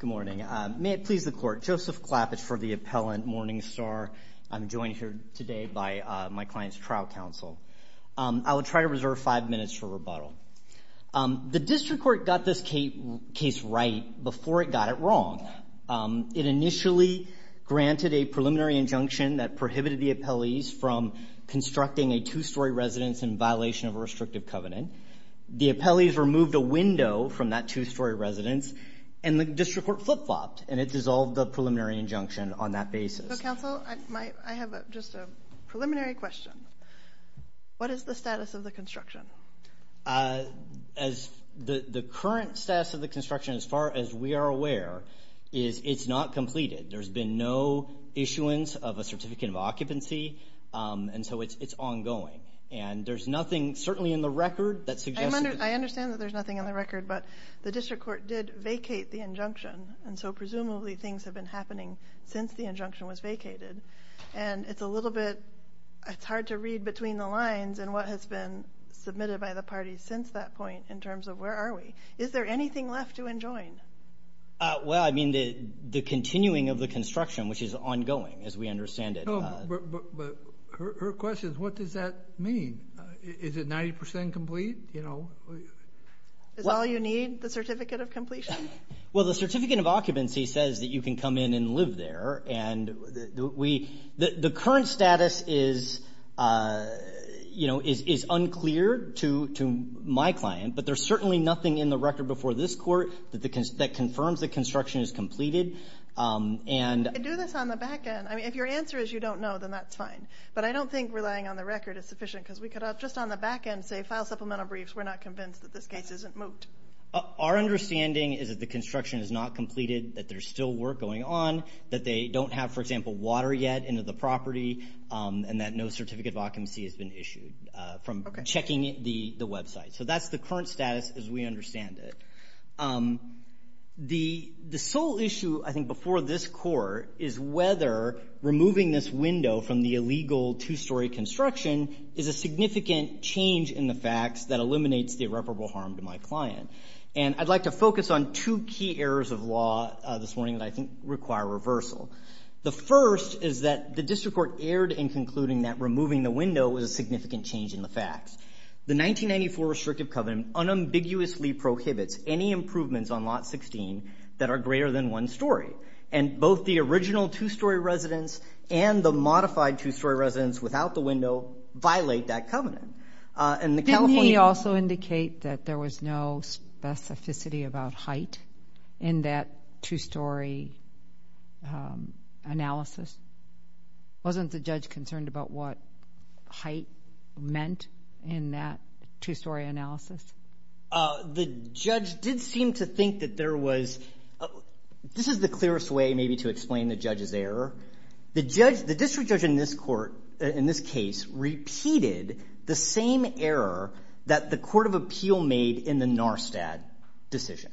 Good morning. May it please the court, Joseph Klapitz for the Appellant Morning Star. I'm joined here today by my client's trial counsel. I will try to reserve five minutes for rebuttal. The district court got this case right before it got it wrong. It initially granted a preliminary injunction that prohibited the appellees from constructing a two-story residence in violation of a restrictive covenant. The appellees removed a window from that two-story residence and the district court flip-flopped and it dissolved the preliminary injunction on that basis. So counsel, I have just a preliminary question. What is the status of the construction? As the current status of the construction, as far as we are aware, is it's not completed. There's been no issuance of a certificate of occupancy, and so it's ongoing. And there's nothing, certainly in the record, that suggests... I understand that there's nothing in the record, but the district court did vacate the injunction, and so presumably things have been happening since the injunction was vacated. And it's a little bit, it's hard to read between the lines and what has been submitted by the parties since that point in terms of where are we. Is there anything left to which is ongoing, as we understand it. But her question is, what does that mean? Is it 90% complete? Is all you need, the certificate of completion? Well, the certificate of occupancy says that you can come in and live there. And the current status is unclear to my client, but there's certainly nothing in the record before this court that confirms the construction is completed. And Do this on the back end. I mean, if your answer is you don't know, then that's fine. But I don't think relying on the record is sufficient, because we could just on the back end say, file supplemental briefs. We're not convinced that this case isn't moot. Our understanding is that the construction is not completed, that there's still work going on, that they don't have, for example, water yet into the property, and that no certificate of occupancy has been issued from checking the website. So that's the current status, as we understand it. The sole issue, I think, before this court is whether removing this window from the illegal two-story construction is a significant change in the facts that eliminates the irreparable harm to my client. And I'd like to focus on two key errors of law this morning that I think require reversal. The first is that the district court erred in concluding that removing the window was a significant change in the facts. The 1994 restrictive covenant unambiguously prohibits any improvements on lot 16 that are greater than one story. And both the original two-story residence and the modified two-story residence without the window violate that covenant. Didn't he also indicate that there was no specificity about height in that two-story analysis? Wasn't the judge concerned about what height meant in that two-story analysis? The judge did seem to think that there was... This is the clearest way maybe to explain the judge's error. The district judge in this case repeated the same error that the Court of Appeal made in the Narstad decision.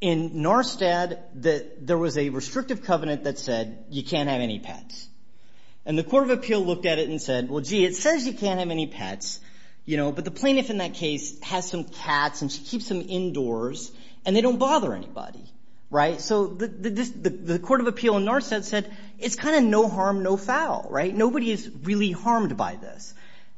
In Narstad, there was a restrictive covenant that said, you can't have any pets. And the Court of Appeal looked at it and said, well, gee, it says you can't have any pets, you know, but the plaintiff in that case has some cats and she keeps them indoors and they don't bother anybody. Right? So the Court of Appeal in Narstad said, it's kind of no harm, no foul, right? Nobody is really harmed by this.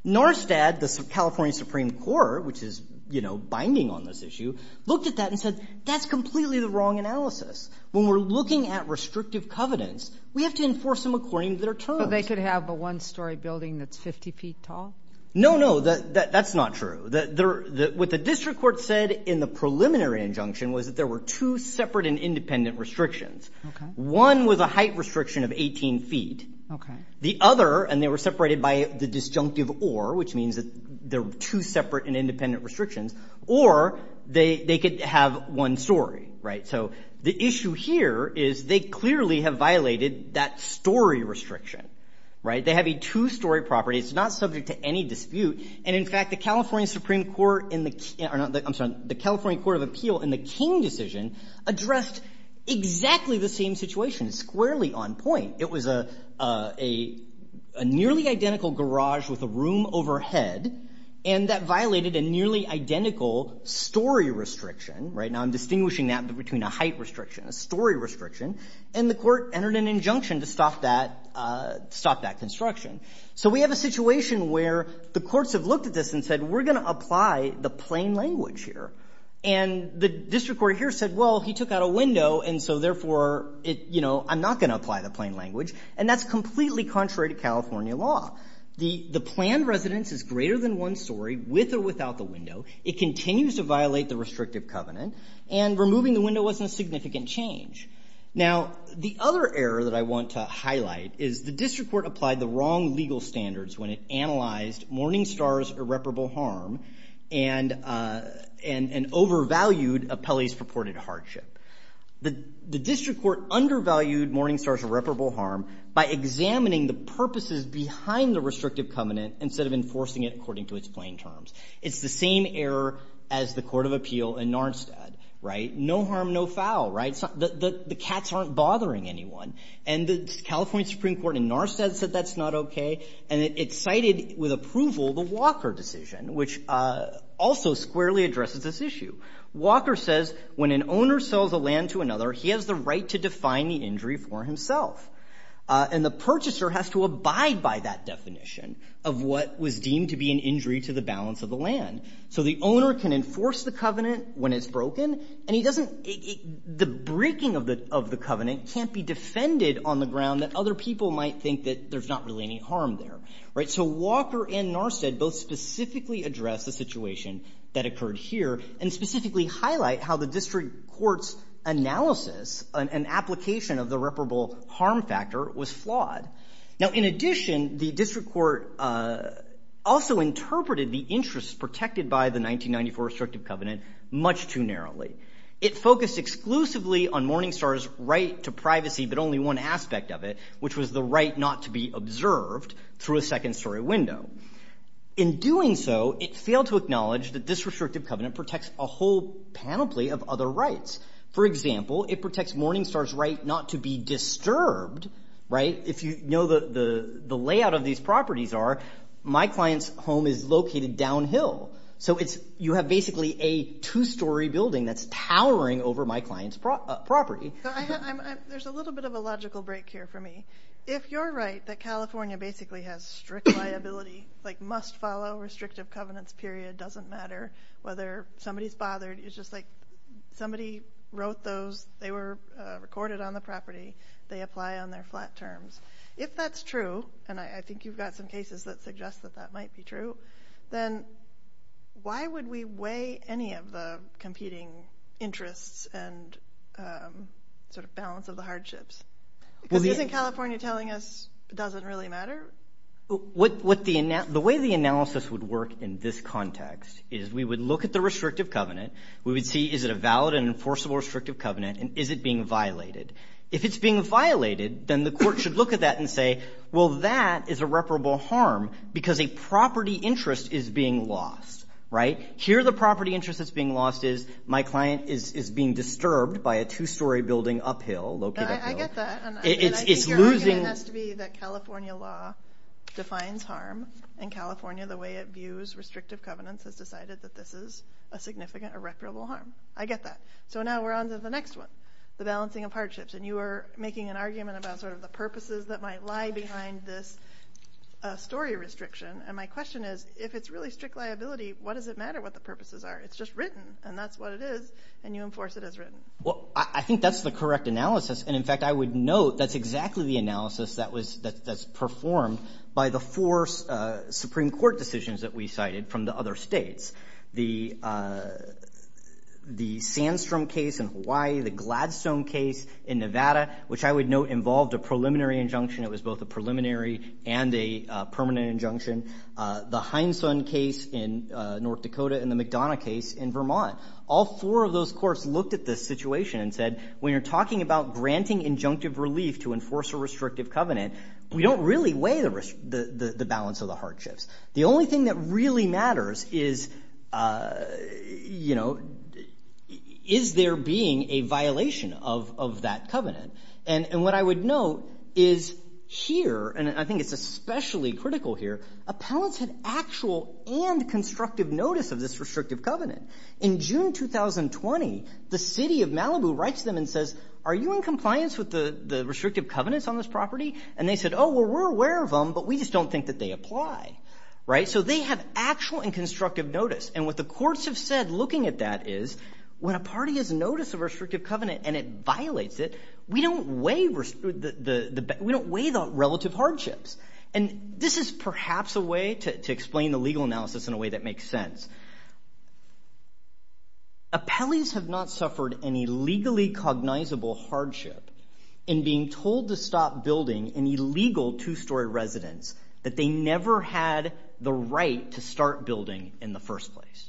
Narstad, the California Supreme Court, which is, you know, binding on this issue, looked at that and said, that's completely the wrong analysis. When we're looking at restrictive covenants, we have to enforce them according to their terms. So they could have a one-story building that's 50 feet tall? No, no. That's not true. What the district court said in the preliminary injunction was that there were two separate and independent restrictions. One was a height restriction of 18 feet. The other, and they were separated by the disjunctive or, which means that there were two separate and independent restrictions, or they could have one story, right? So the issue here is they clearly have violated that story restriction, right? They have a two-story property. It's not subject to any dispute. And in fact, the California Supreme Court in the, I'm sorry, the California Court of Appeal in the King decision addressed exactly the same situation, squarely on point. It was a nearly identical garage with a room overhead and that violated a nearly identical story restriction, right? Now I'm distinguishing that between a height restriction, a story restriction, and the court entered an injunction to stop that, stop that construction. So we have a situation where the courts have looked at this and said, we're going to apply the plain language here. And the district court here said, well, he took out a window, and so, therefore, it, you know, I'm not going to apply the plain language. And that's completely contrary to California law. The planned residence is greater than one story, with or without the window. It continues to violate the restrictive covenant. And removing the window wasn't a significant change. Now, the other error that I want to highlight is the district court applied the wrong legal standards when it analyzed Morningstar's irreparable harm and overvalued Appellee's purported hardship. The district court undervalued Morningstar's irreparable harm by examining the purposes behind the restrictive covenant instead of enforcing it according to its plain terms. It's the same error as the Court of Appeal in Narsetad, right? No harm, no foul, right? The cats aren't bothering anyone. And the California Supreme Court in Narsetad said that's not okay. And it cited with approval the Walker decision, which also squarely addresses this issue. Walker says, when an owner sells a land to another, he has the right to define the injury for himself. And the purchaser has to abide by that definition of what was the balance of the land. So the owner can enforce the covenant when it's broken, and the breaking of the covenant can't be defended on the ground that other people might think that there's not really any harm there, right? So Walker and Narsetad both specifically address the situation that occurred here, and specifically highlight how the district court's analysis and application of the irreparable harm factor was flawed. Now, in addition, the district court also interpreted the interests protected by the 1994 restrictive covenant much too narrowly. It focused exclusively on Morningstar's right to privacy, but only one aspect of it, which was the right not to be observed through a second story window. In doing so, it failed to acknowledge that this restrictive covenant protects a whole panoply of other rights. For example, it protects Morningstar's right not to be disturbed, right? If you know the layout of these properties are, my client's home is located downhill. So you have basically a two-story building that's towering over my client's property. There's a little bit of a logical break here for me. If you're right that California basically has strict liability, like must follow restrictive covenants period, doesn't matter whether somebody's somebody wrote those, they were recorded on the property, they apply on their flat terms. If that's true, and I think you've got some cases that suggest that that might be true, then why would we weigh any of the competing interests and sort of balance of the hardships? Because isn't California telling us it doesn't really matter? What the way the analysis would work in this context is we would look at the restrictive covenant. We would see is it a valid and enforceable restrictive covenant and is it being violated? If it's being violated, then the court should look at that and say, well, that is irreparable harm because a property interest is being lost, right? Here, the property interest that's being lost is my client is being disturbed by a two-story building uphill, located uphill. I get that, and I think your argument has to be that California law defines harm, and California, the way it views restrictive covenants, has decided that this is a significant irreparable harm. I get that. So now we're on to the next one, the balancing of hardships, and you are making an argument about sort of the purposes that might lie behind this story restriction, and my question is, if it's really strict liability, what does it matter what the purposes are? It's just written, and that's what it is, and you enforce it as written. Well, I think that's the correct analysis, and in fact, I would note that's exactly the analysis that's performed by the four Supreme Court decisions that we cited from the other states. The Sandstrom case in Hawaii, the Gladstone case in Nevada, which I would note involved a preliminary injunction. It was both a preliminary and a permanent injunction. The Hindson case in North Dakota and the McDonough case in Vermont. All four of those courts looked at this situation and said, when you're talking about granting injunctive relief to enforce a restrictive covenant, we don't really weigh the balance of the hardships. The only thing that really matters is there being a violation of that covenant, and what I would note is here, and I think it's especially critical here, appellants had actual and constructive notice of this restrictive covenant. In June 2020, the city of Malibu writes them and says, are you in compliance with the restrictive covenants on this property? And they said, oh, well, we're aware of them, but we just don't think that they apply. So they have actual and constructive notice, and what the courts have said looking at that is, when a party has noticed a restrictive covenant and it violates it, we don't weigh the relative hardships. And this is perhaps a way to explain the legal analysis in a way that makes sense. Appellees have not suffered any legally cognizable hardship in being told to stop building an illegal two-story residence that they never had the right to start building in the first place.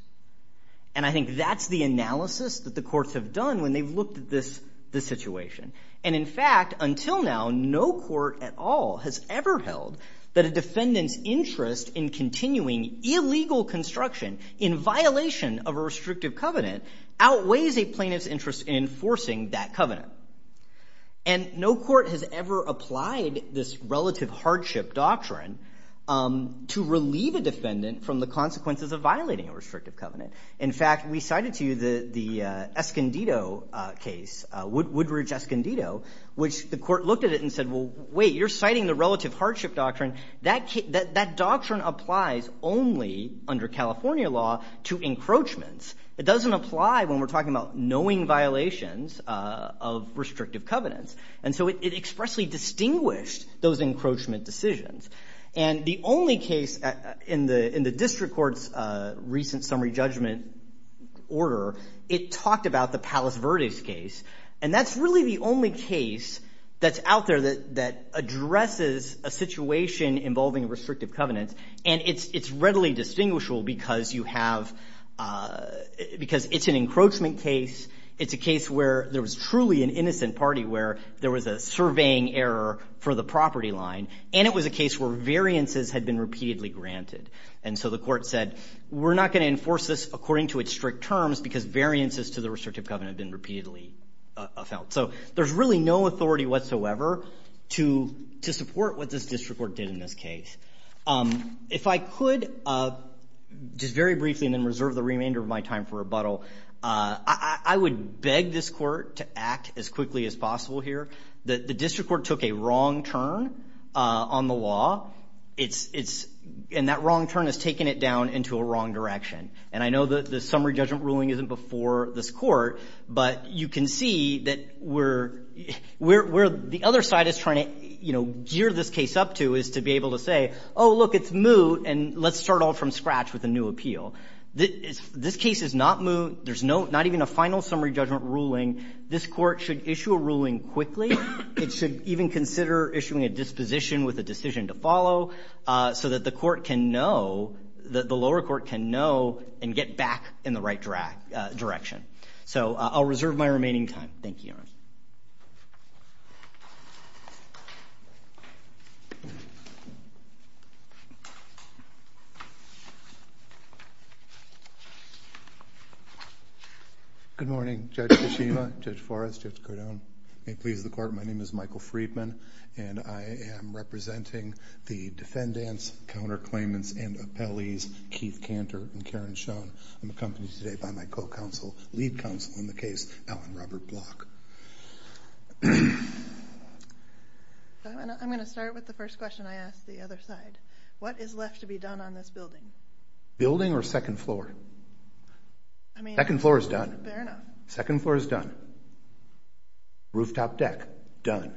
And I think that's the analysis that the courts have done when they've looked at this situation. And in fact, until now, no court at all has ever held that a defendant's interest in continuing illegal construction in violation of a restrictive covenant outweighs a plaintiff's interest in enforcing that covenant. And no court has ever applied this relative hardship doctrine to relieve a defendant from the consequences of violating a restrictive covenant. In fact, we cited to you the Woodridge-Escondido case, which the court looked at it and said, wait, you're citing the relative hardship doctrine. That doctrine applies only under California law to encroachments. It doesn't apply when we're talking about knowing violations of restrictive covenants. And so it expressly distinguished those encroachment decisions. And the only case in the district court's recent summary judgment order, it talked about the that addresses a situation involving restrictive covenants. And it's readily distinguishable because it's an encroachment case. It's a case where there was truly an innocent party where there was a surveying error for the property line. And it was a case where variances had been repeatedly granted. And so the court said, we're not going to enforce this according to its strict terms because variances to the restrictive covenant have been repeatedly felt. So there's really no to support what this district court did in this case. If I could just very briefly and then reserve the remainder of my time for rebuttal, I would beg this court to act as quickly as possible here. The district court took a wrong turn on the law. And that wrong turn has taken it down into a wrong direction. And I know that the summary judgment ruling isn't before this court, but you can see that where the other side is trying to gear this case up to is to be able to say, oh, look, it's moot, and let's start all from scratch with a new appeal. This case is not moot. There's not even a final summary judgment ruling. This court should issue a ruling quickly. It should even consider issuing a disposition with a decision to follow so that the court can know, the lower court can know and get back in the right direction. So I'll reserve my remaining time. Thank you, Your Honor. Good morning, Judge Kishima, Judge Forrest, Judge Cardone, and colleagues of the court. My name is Michael Friedman, and I am representing the defendants, counterclaimants, and appellees Keith Cantor and Karen Schoen. I'm accompanied today by my co-counsel, lead counsel in the case, Alan Robert Block. I'm going to start with the first question I asked the other side. What is left to be done on this building? Building or second floor? Second floor is done. Fair enough. Second floor is done. Rooftop deck, done.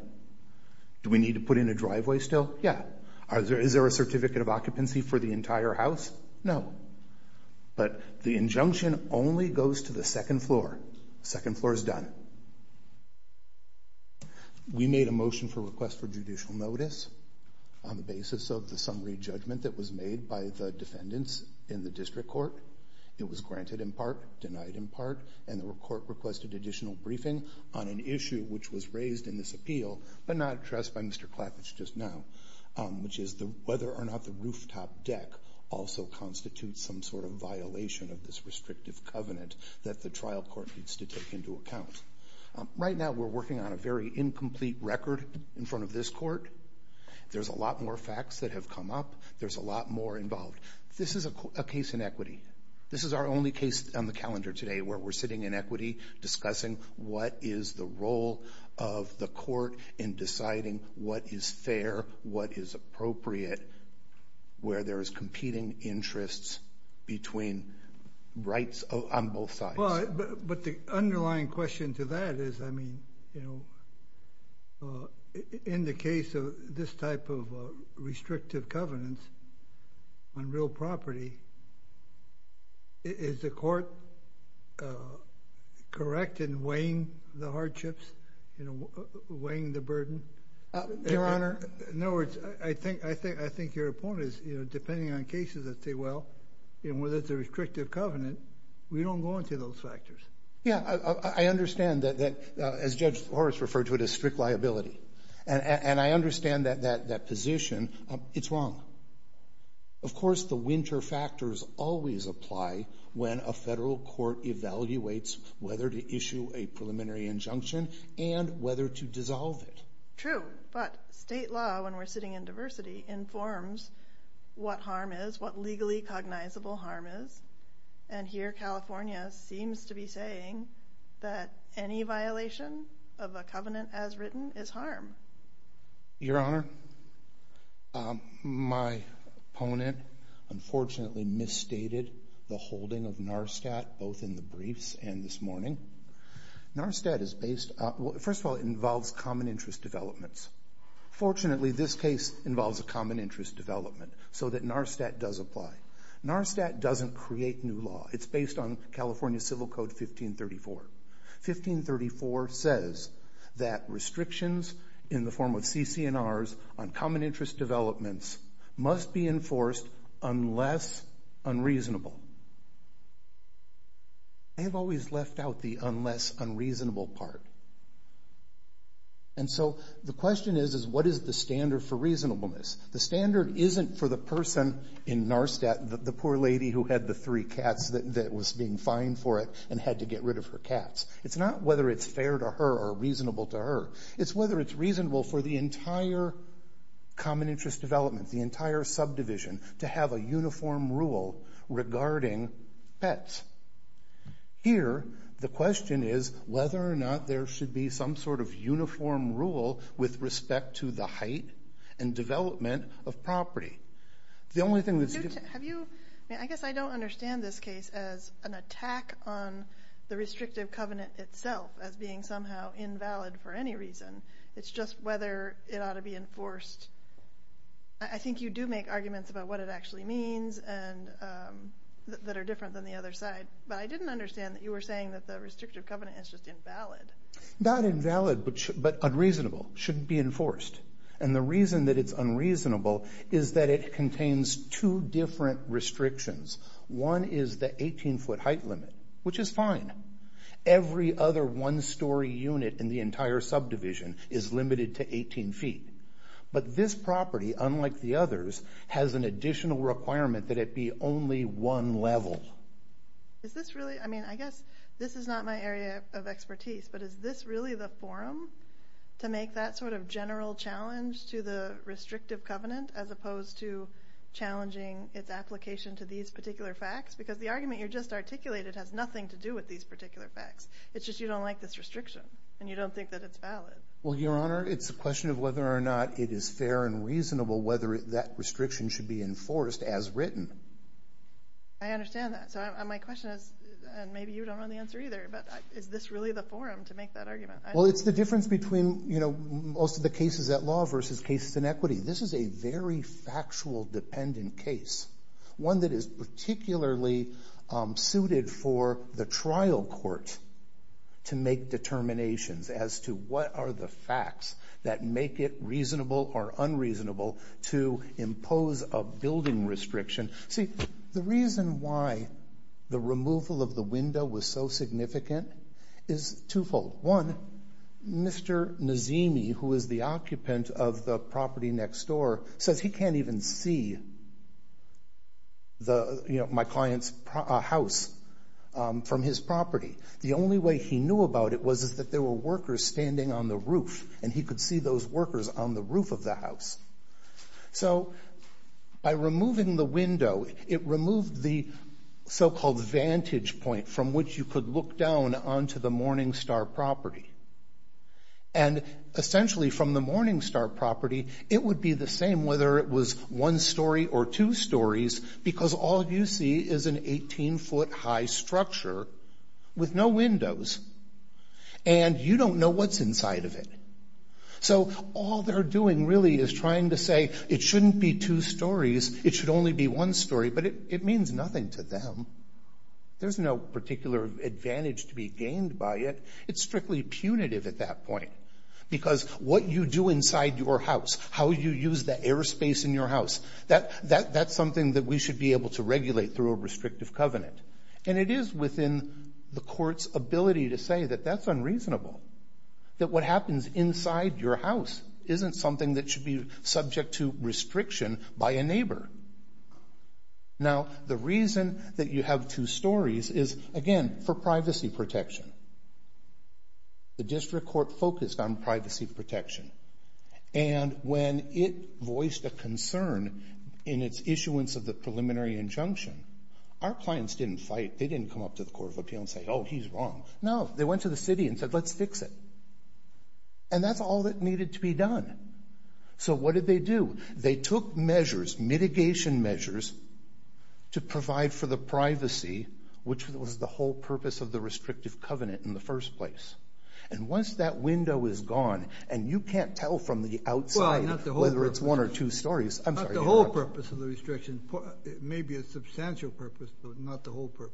Do we need to put in a driveway still? Yeah. Is there a certificate of occupancy for the entire house? No. But the injunction only goes to the second floor. Second floor is done. We made a motion for request for judicial notice on the basis of the summary judgment that was made by the defendants in the district court. It was granted in part, denied in part, and the court requested additional briefing on an issue which was raised in this appeal, but not addressed by Mr. Klafitz just now, which is whether or not the rooftop deck also constitutes some sort of violation of this that the trial court needs to take into account. Right now, we're working on a very incomplete record in front of this court. There's a lot more facts that have come up. There's a lot more involved. This is a case in equity. This is our only case on the calendar today where we're sitting in equity discussing what is the role of the court in deciding what is fair, what is appropriate, where there is competing interests between rights on both sides. But the underlying question to that is, in the case of this type of restrictive covenants on real property, is the court correct in weighing the hardships, weighing the burden? Your Honor, in other words, I think your point is, depending on cases that say, well, whether it's a restrictive covenant, we don't go into those factors. Yeah, I understand that. As Judge Horace referred to it as strict liability. And I understand that position. It's wrong. Of course, the winter factors always apply when a federal court evaluates whether to issue a preliminary injunction and whether to dissolve it. True. But state law, when we're sitting in diversity, informs what harm is, what legally cognizable harm is. And here, California seems to be saying that any violation of a covenant as written is harm. Your Honor, my opponent unfortunately misstated the holding of NARSTAT, both in the briefs and this morning. NARSTAT is based, first of all, involves common interest developments. Fortunately, this case involves a common interest development so that NARSTAT does apply. NARSTAT doesn't create new law. It's based on California Civil Code 1534. 1534 says that restrictions in the form of CC&Rs on common interest developments must be enforced unless unreasonable. They have always left out the unless unreasonable part. And so the question is, is what is the standard for reasonableness? The standard isn't for the person in NARSTAT, the poor lady who had the three cats that was being fined for it and had to get rid of her cats. It's not whether it's fair to her or reasonable to her. It's whether it's reasonable for the entire common interest development, the entire subdivision to have a pet. Here, the question is whether or not there should be some sort of uniform rule with respect to the height and development of property. The only thing that's... I guess I don't understand this case as an attack on the restrictive covenant itself as being somehow invalid for any reason. It's just whether it ought to be enforced. I think you do make and that are different than the other side. But I didn't understand that you were saying that the restrictive covenant is just invalid. Not invalid, but unreasonable. Shouldn't be enforced. And the reason that it's unreasonable is that it contains two different restrictions. One is the 18-foot height limit, which is fine. Every other one-story unit in the entire subdivision is limited to 18 feet. But this property, unlike the others, has an additional requirement that it be only one level. Is this really... I mean, I guess this is not my area of expertise, but is this really the forum to make that sort of general challenge to the restrictive covenant as opposed to challenging its application to these particular facts? Because the argument you just articulated has nothing to do with these particular facts. It's just you don't like this restriction, and you don't think that it's valid. Well, Your Honor, it's a question of whether or not it is fair and reasonable whether that restriction should be enforced as written. I understand that. So my question is, and maybe you don't know the answer either, but is this really the forum to make that argument? Well, it's the difference between most of the cases at law versus cases in equity. This is a very factual dependent case. One that is particularly suited for the trial court to make determinations as to what are the facts that make it reasonable or unreasonable to impose a building restriction. See, the reason why the removal of the window was so significant is twofold. One, Mr. Nazemi, who is the occupant of the property next door, says he can't even see my client's house from his property. The only way he knew about it was that there were workers standing on the roof, and he could see those workers on the roof of the house. So by removing the window, it removed the so-called vantage point from which you could look down onto the Morningstar property. And essentially from the Morningstar property, it would be the same whether it was one story or two stories, because all you see is an 18-foot high structure with no windows, and you don't know what's inside of it. So all they're doing really is trying to say, it shouldn't be two stories, it should only be one story, but it means nothing to them. There's no particular advantage to be gained by it. It's strictly punitive at that point, because what you do inside your house, how you use the airspace in your house, that's something that we should be able to regulate through a restrictive covenant. And it is within the court's ability to say that that's unreasonable, that what happens inside your house isn't something that should be subject to restriction by a neighbor. Now, the reason that you have two stories is, again, for privacy protection. The district court focused on privacy protection, and when it voiced a concern in its issuance of the preliminary injunction, our clients didn't fight, they didn't come up to the Court of Appeal and say, oh, he's wrong. No, they went to the city and said, let's fix it. And that's all that needed to be done. So what did they do? They took measures, mitigation measures, to provide for the privacy, which was the whole purpose of the restrictive covenant in the first place. And once that window is gone, and you can't tell from the outside whether it's one or two stories. Not the whole purpose of the restriction. It may be a substantial purpose, but not the whole purpose.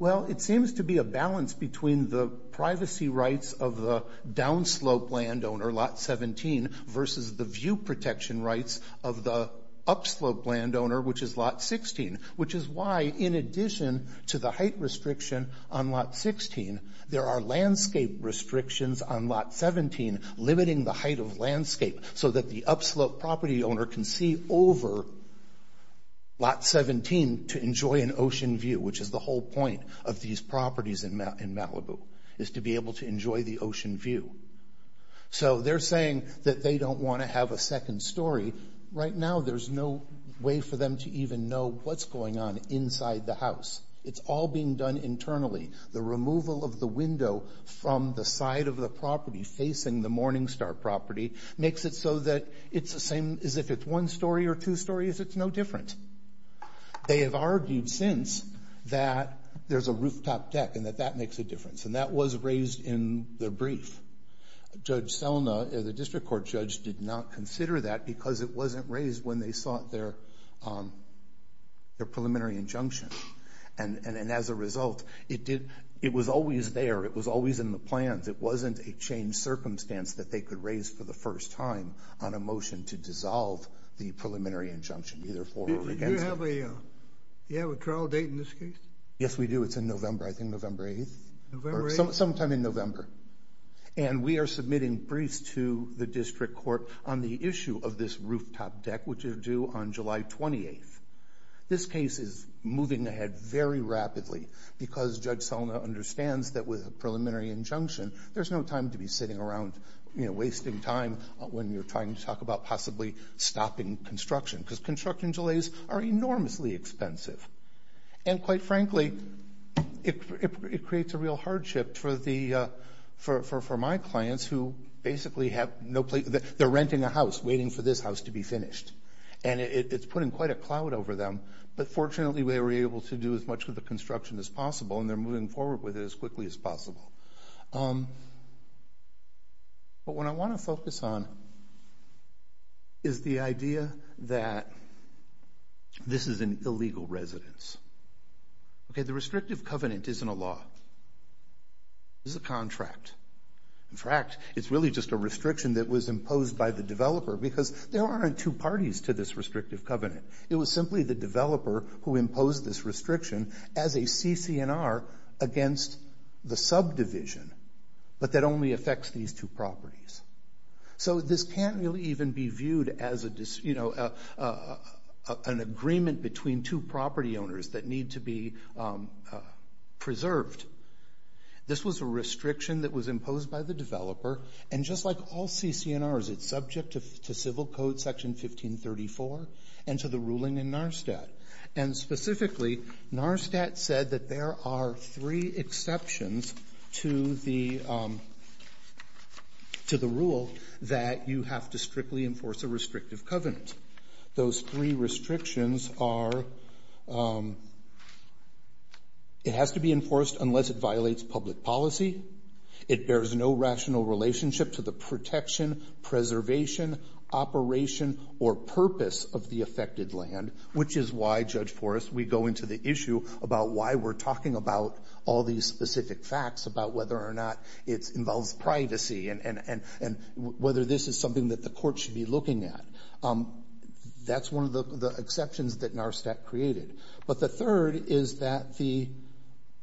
Well, it seems to be a balance between the privacy rights of the downslope landowner, lot 17, versus the view protection rights of the upslope landowner, which is lot 16. Which is why, in addition to the height restriction on lot 16, there are landscape restrictions on lot 17, limiting the height of landscape, so that the upslope property owner can see over lot 17 to enjoy an ocean view, which is the whole point of these properties in Malibu, is to be able to enjoy the ocean view. So they're saying that they don't want to have a second story. Right now, there's no way for them to even know what's going on inside the house. It's all being done internally. The removal of the window from the side of the property, facing the Morningstar property, makes it so that it's the same as if it's one story or two stories. It's no different. They have argued since that there's a rooftop deck, and that that makes a difference. And that was raised in the brief. Judge Selna, the district court judge, did not consider that because it wasn't raised when they sought their preliminary injunction. And as a result, it did, it was always there. It was always in the plans. It wasn't a changed circumstance that they could raise for the first time on a motion to dissolve the preliminary injunction, either for or against it. Do you have a trial date in this case? Yes, we do. It's in November. I think November 8th. Sometime in November. And we are submitting briefs to the district court on the issue of this rooftop deck, which is due on July 28th. This case is moving ahead very rapidly because Judge Selna understands that with a preliminary injunction, there's no time to be sitting around, you know, wasting time when you're trying to talk about possibly stopping construction. Because construction delays are enormously expensive. And quite frankly, it creates a real hardship for my clients who basically have no place, they're renting a house waiting for this house to be finished. And it's putting quite a cloud over them. But fortunately, we were able to do as much with the construction as possible. And they're moving forward with it as quickly as possible. But what I want to focus on is the idea that this is an illegal residence. Okay, the restrictive covenant isn't a law. It's a contract. In fact, it's really just a restriction that was imposed by the developer because there aren't two parties to this restrictive covenant. It was simply the developer who imposed this restriction as a CCNR against the subdivision, but that only affects these two properties. So this can't really even be viewed as an agreement between two property owners that need to be preserved. This was a restriction that was imposed by the developer. And just like all CCNRs, it's subject to Civil Code Section 1534 and to the ruling in NARSTAT. And specifically, NARSTAT said that there are three exceptions to the rule that you have to strictly enforce a restrictive covenant. Those three restrictions are it has to be enforced unless it violates public policy. It bears no rational relationship to the protection, preservation, operation, or purpose of the affected land, which is why, Judge Forrest, we go into the issue about why we're talking about all these specific facts about whether or not it involves privacy and whether this is something that the court should be looking at. That's one of the exceptions that NARSTAT created. But the third is that the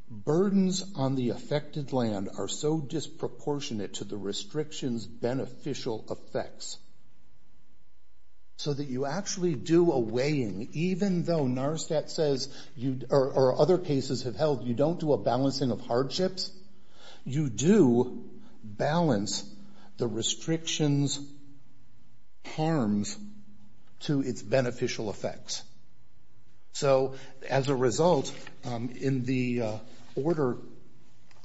burdens on the affected land are so disproportionate to the restriction's beneficial effects. So that you actually do a weighing, even though NARSTAT says, or other cases have held, you don't do a balancing of hardships, you do balance the restriction's harms to its beneficial effects. So as a result, in the order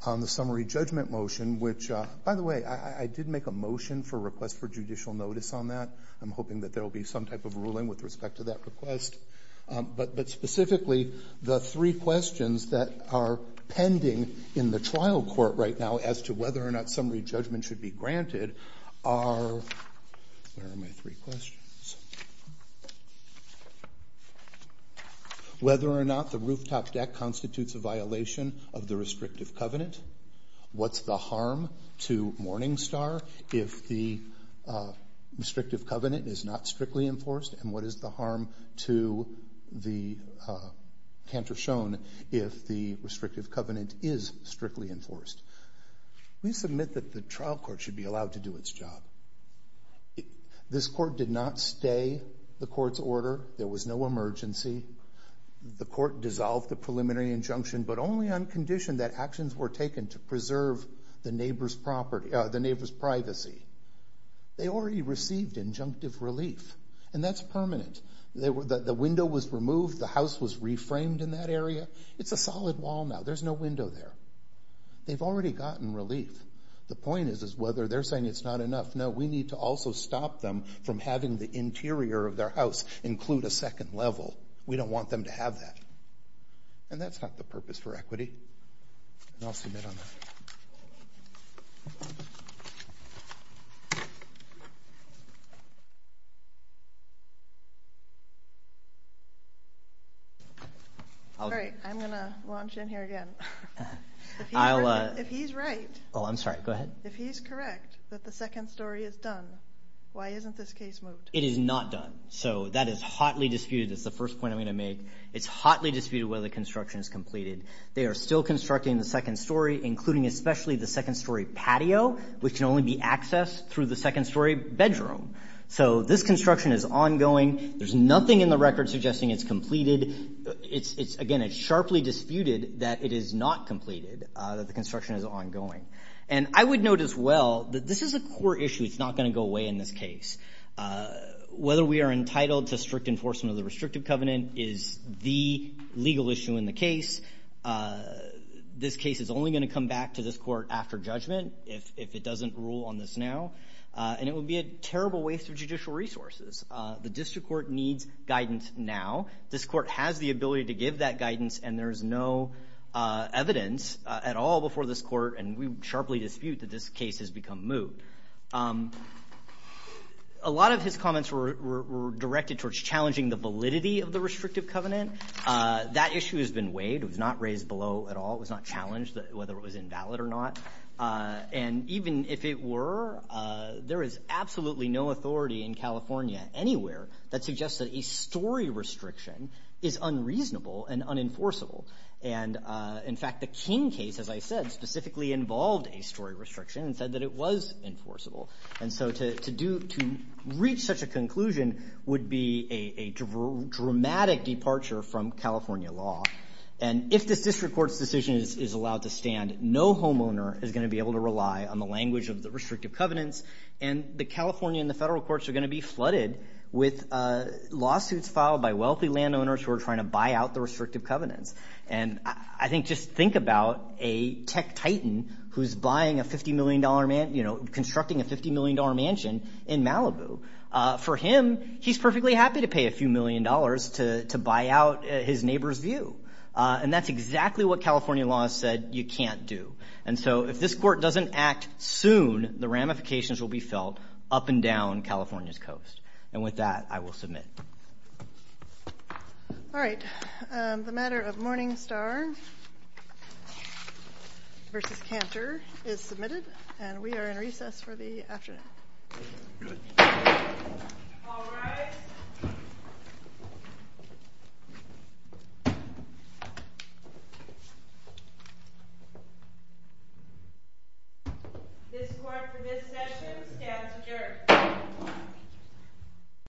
on the summary judgment motion, which, by the way, I did make a motion for request for judicial notice on that. I'm hoping that there'll be some type of ruling with respect to that request. But specifically, the three questions that are pending in the trial court right now as to whether or not summary judgment should be granted are, where are my three questions? Whether or not the rooftop deck constitutes a harm to Morningstar if the restrictive covenant is not strictly enforced? And what is the harm to the Cantor Shone if the restrictive covenant is strictly enforced? We submit that the trial court should be allowed to do its job. This court did not stay the court's order. There was no emergency. The court dissolved the preliminary injunction, but only on condition that actions were taken to preserve the neighbor's privacy. They already received injunctive relief, and that's permanent. The window was removed, the house was reframed in that area. It's a solid wall now, there's no window there. They've already gotten relief. The point is whether they're saying it's not enough. No, we need to also stop them from having the interior of their house include a bit on that. All right, I'm going to launch in here again. If he's right, if he's correct that the second story is done, why isn't this case moved? It is not done. So that is hotly disputed. That's the first point I'm going to make. It's hotly disputed whether the construction is completed. They are still including especially the second story patio, which can only be accessed through the second story bedroom. So this construction is ongoing. There's nothing in the record suggesting it's completed. Again, it's sharply disputed that it is not completed, that the construction is ongoing. And I would note as well that this is a core issue. It's not going to go away in this case. Whether we are entitled to strict enforcement of the restrictive covenant is the legal issue in case. This case is only going to come back to this court after judgment if it doesn't rule on this now. And it would be a terrible waste of judicial resources. The district court needs guidance now. This court has the ability to give that guidance and there's no evidence at all before this court. And we sharply dispute that this case has become moved. A lot of his comments were directed towards challenging the validity of the restrictive wade. It was not raised below at all. It was not challenged whether it was invalid or not. And even if it were, there is absolutely no authority in California anywhere that suggests that a story restriction is unreasonable and unenforceable. And in fact, the King case, as I said, specifically involved a story restriction and said that it was enforceable. And so to reach such a conclusion would be a dramatic departure from California law. And if this district court's decision is allowed to stand, no homeowner is going to be able to rely on the language of the restrictive covenants. And the California and the federal courts are going to be flooded with lawsuits filed by wealthy landowners who are trying to buy out the restrictive covenants. And I think just think about a tech titan who's buying a $50 million mansion, you know, constructing a $50 million mansion in Malibu. For him, he's perfectly happy to pay a few million dollars to buy out his neighbor's view. And that's exactly what California law has said you can't do. And so if this court doesn't act soon, the ramifications will be felt up and down California's coast. And with that, I will submit. All right. The matter of Morningstar versus Cantor is submitted, and we are in recess for the session. This court for this session stands adjourned.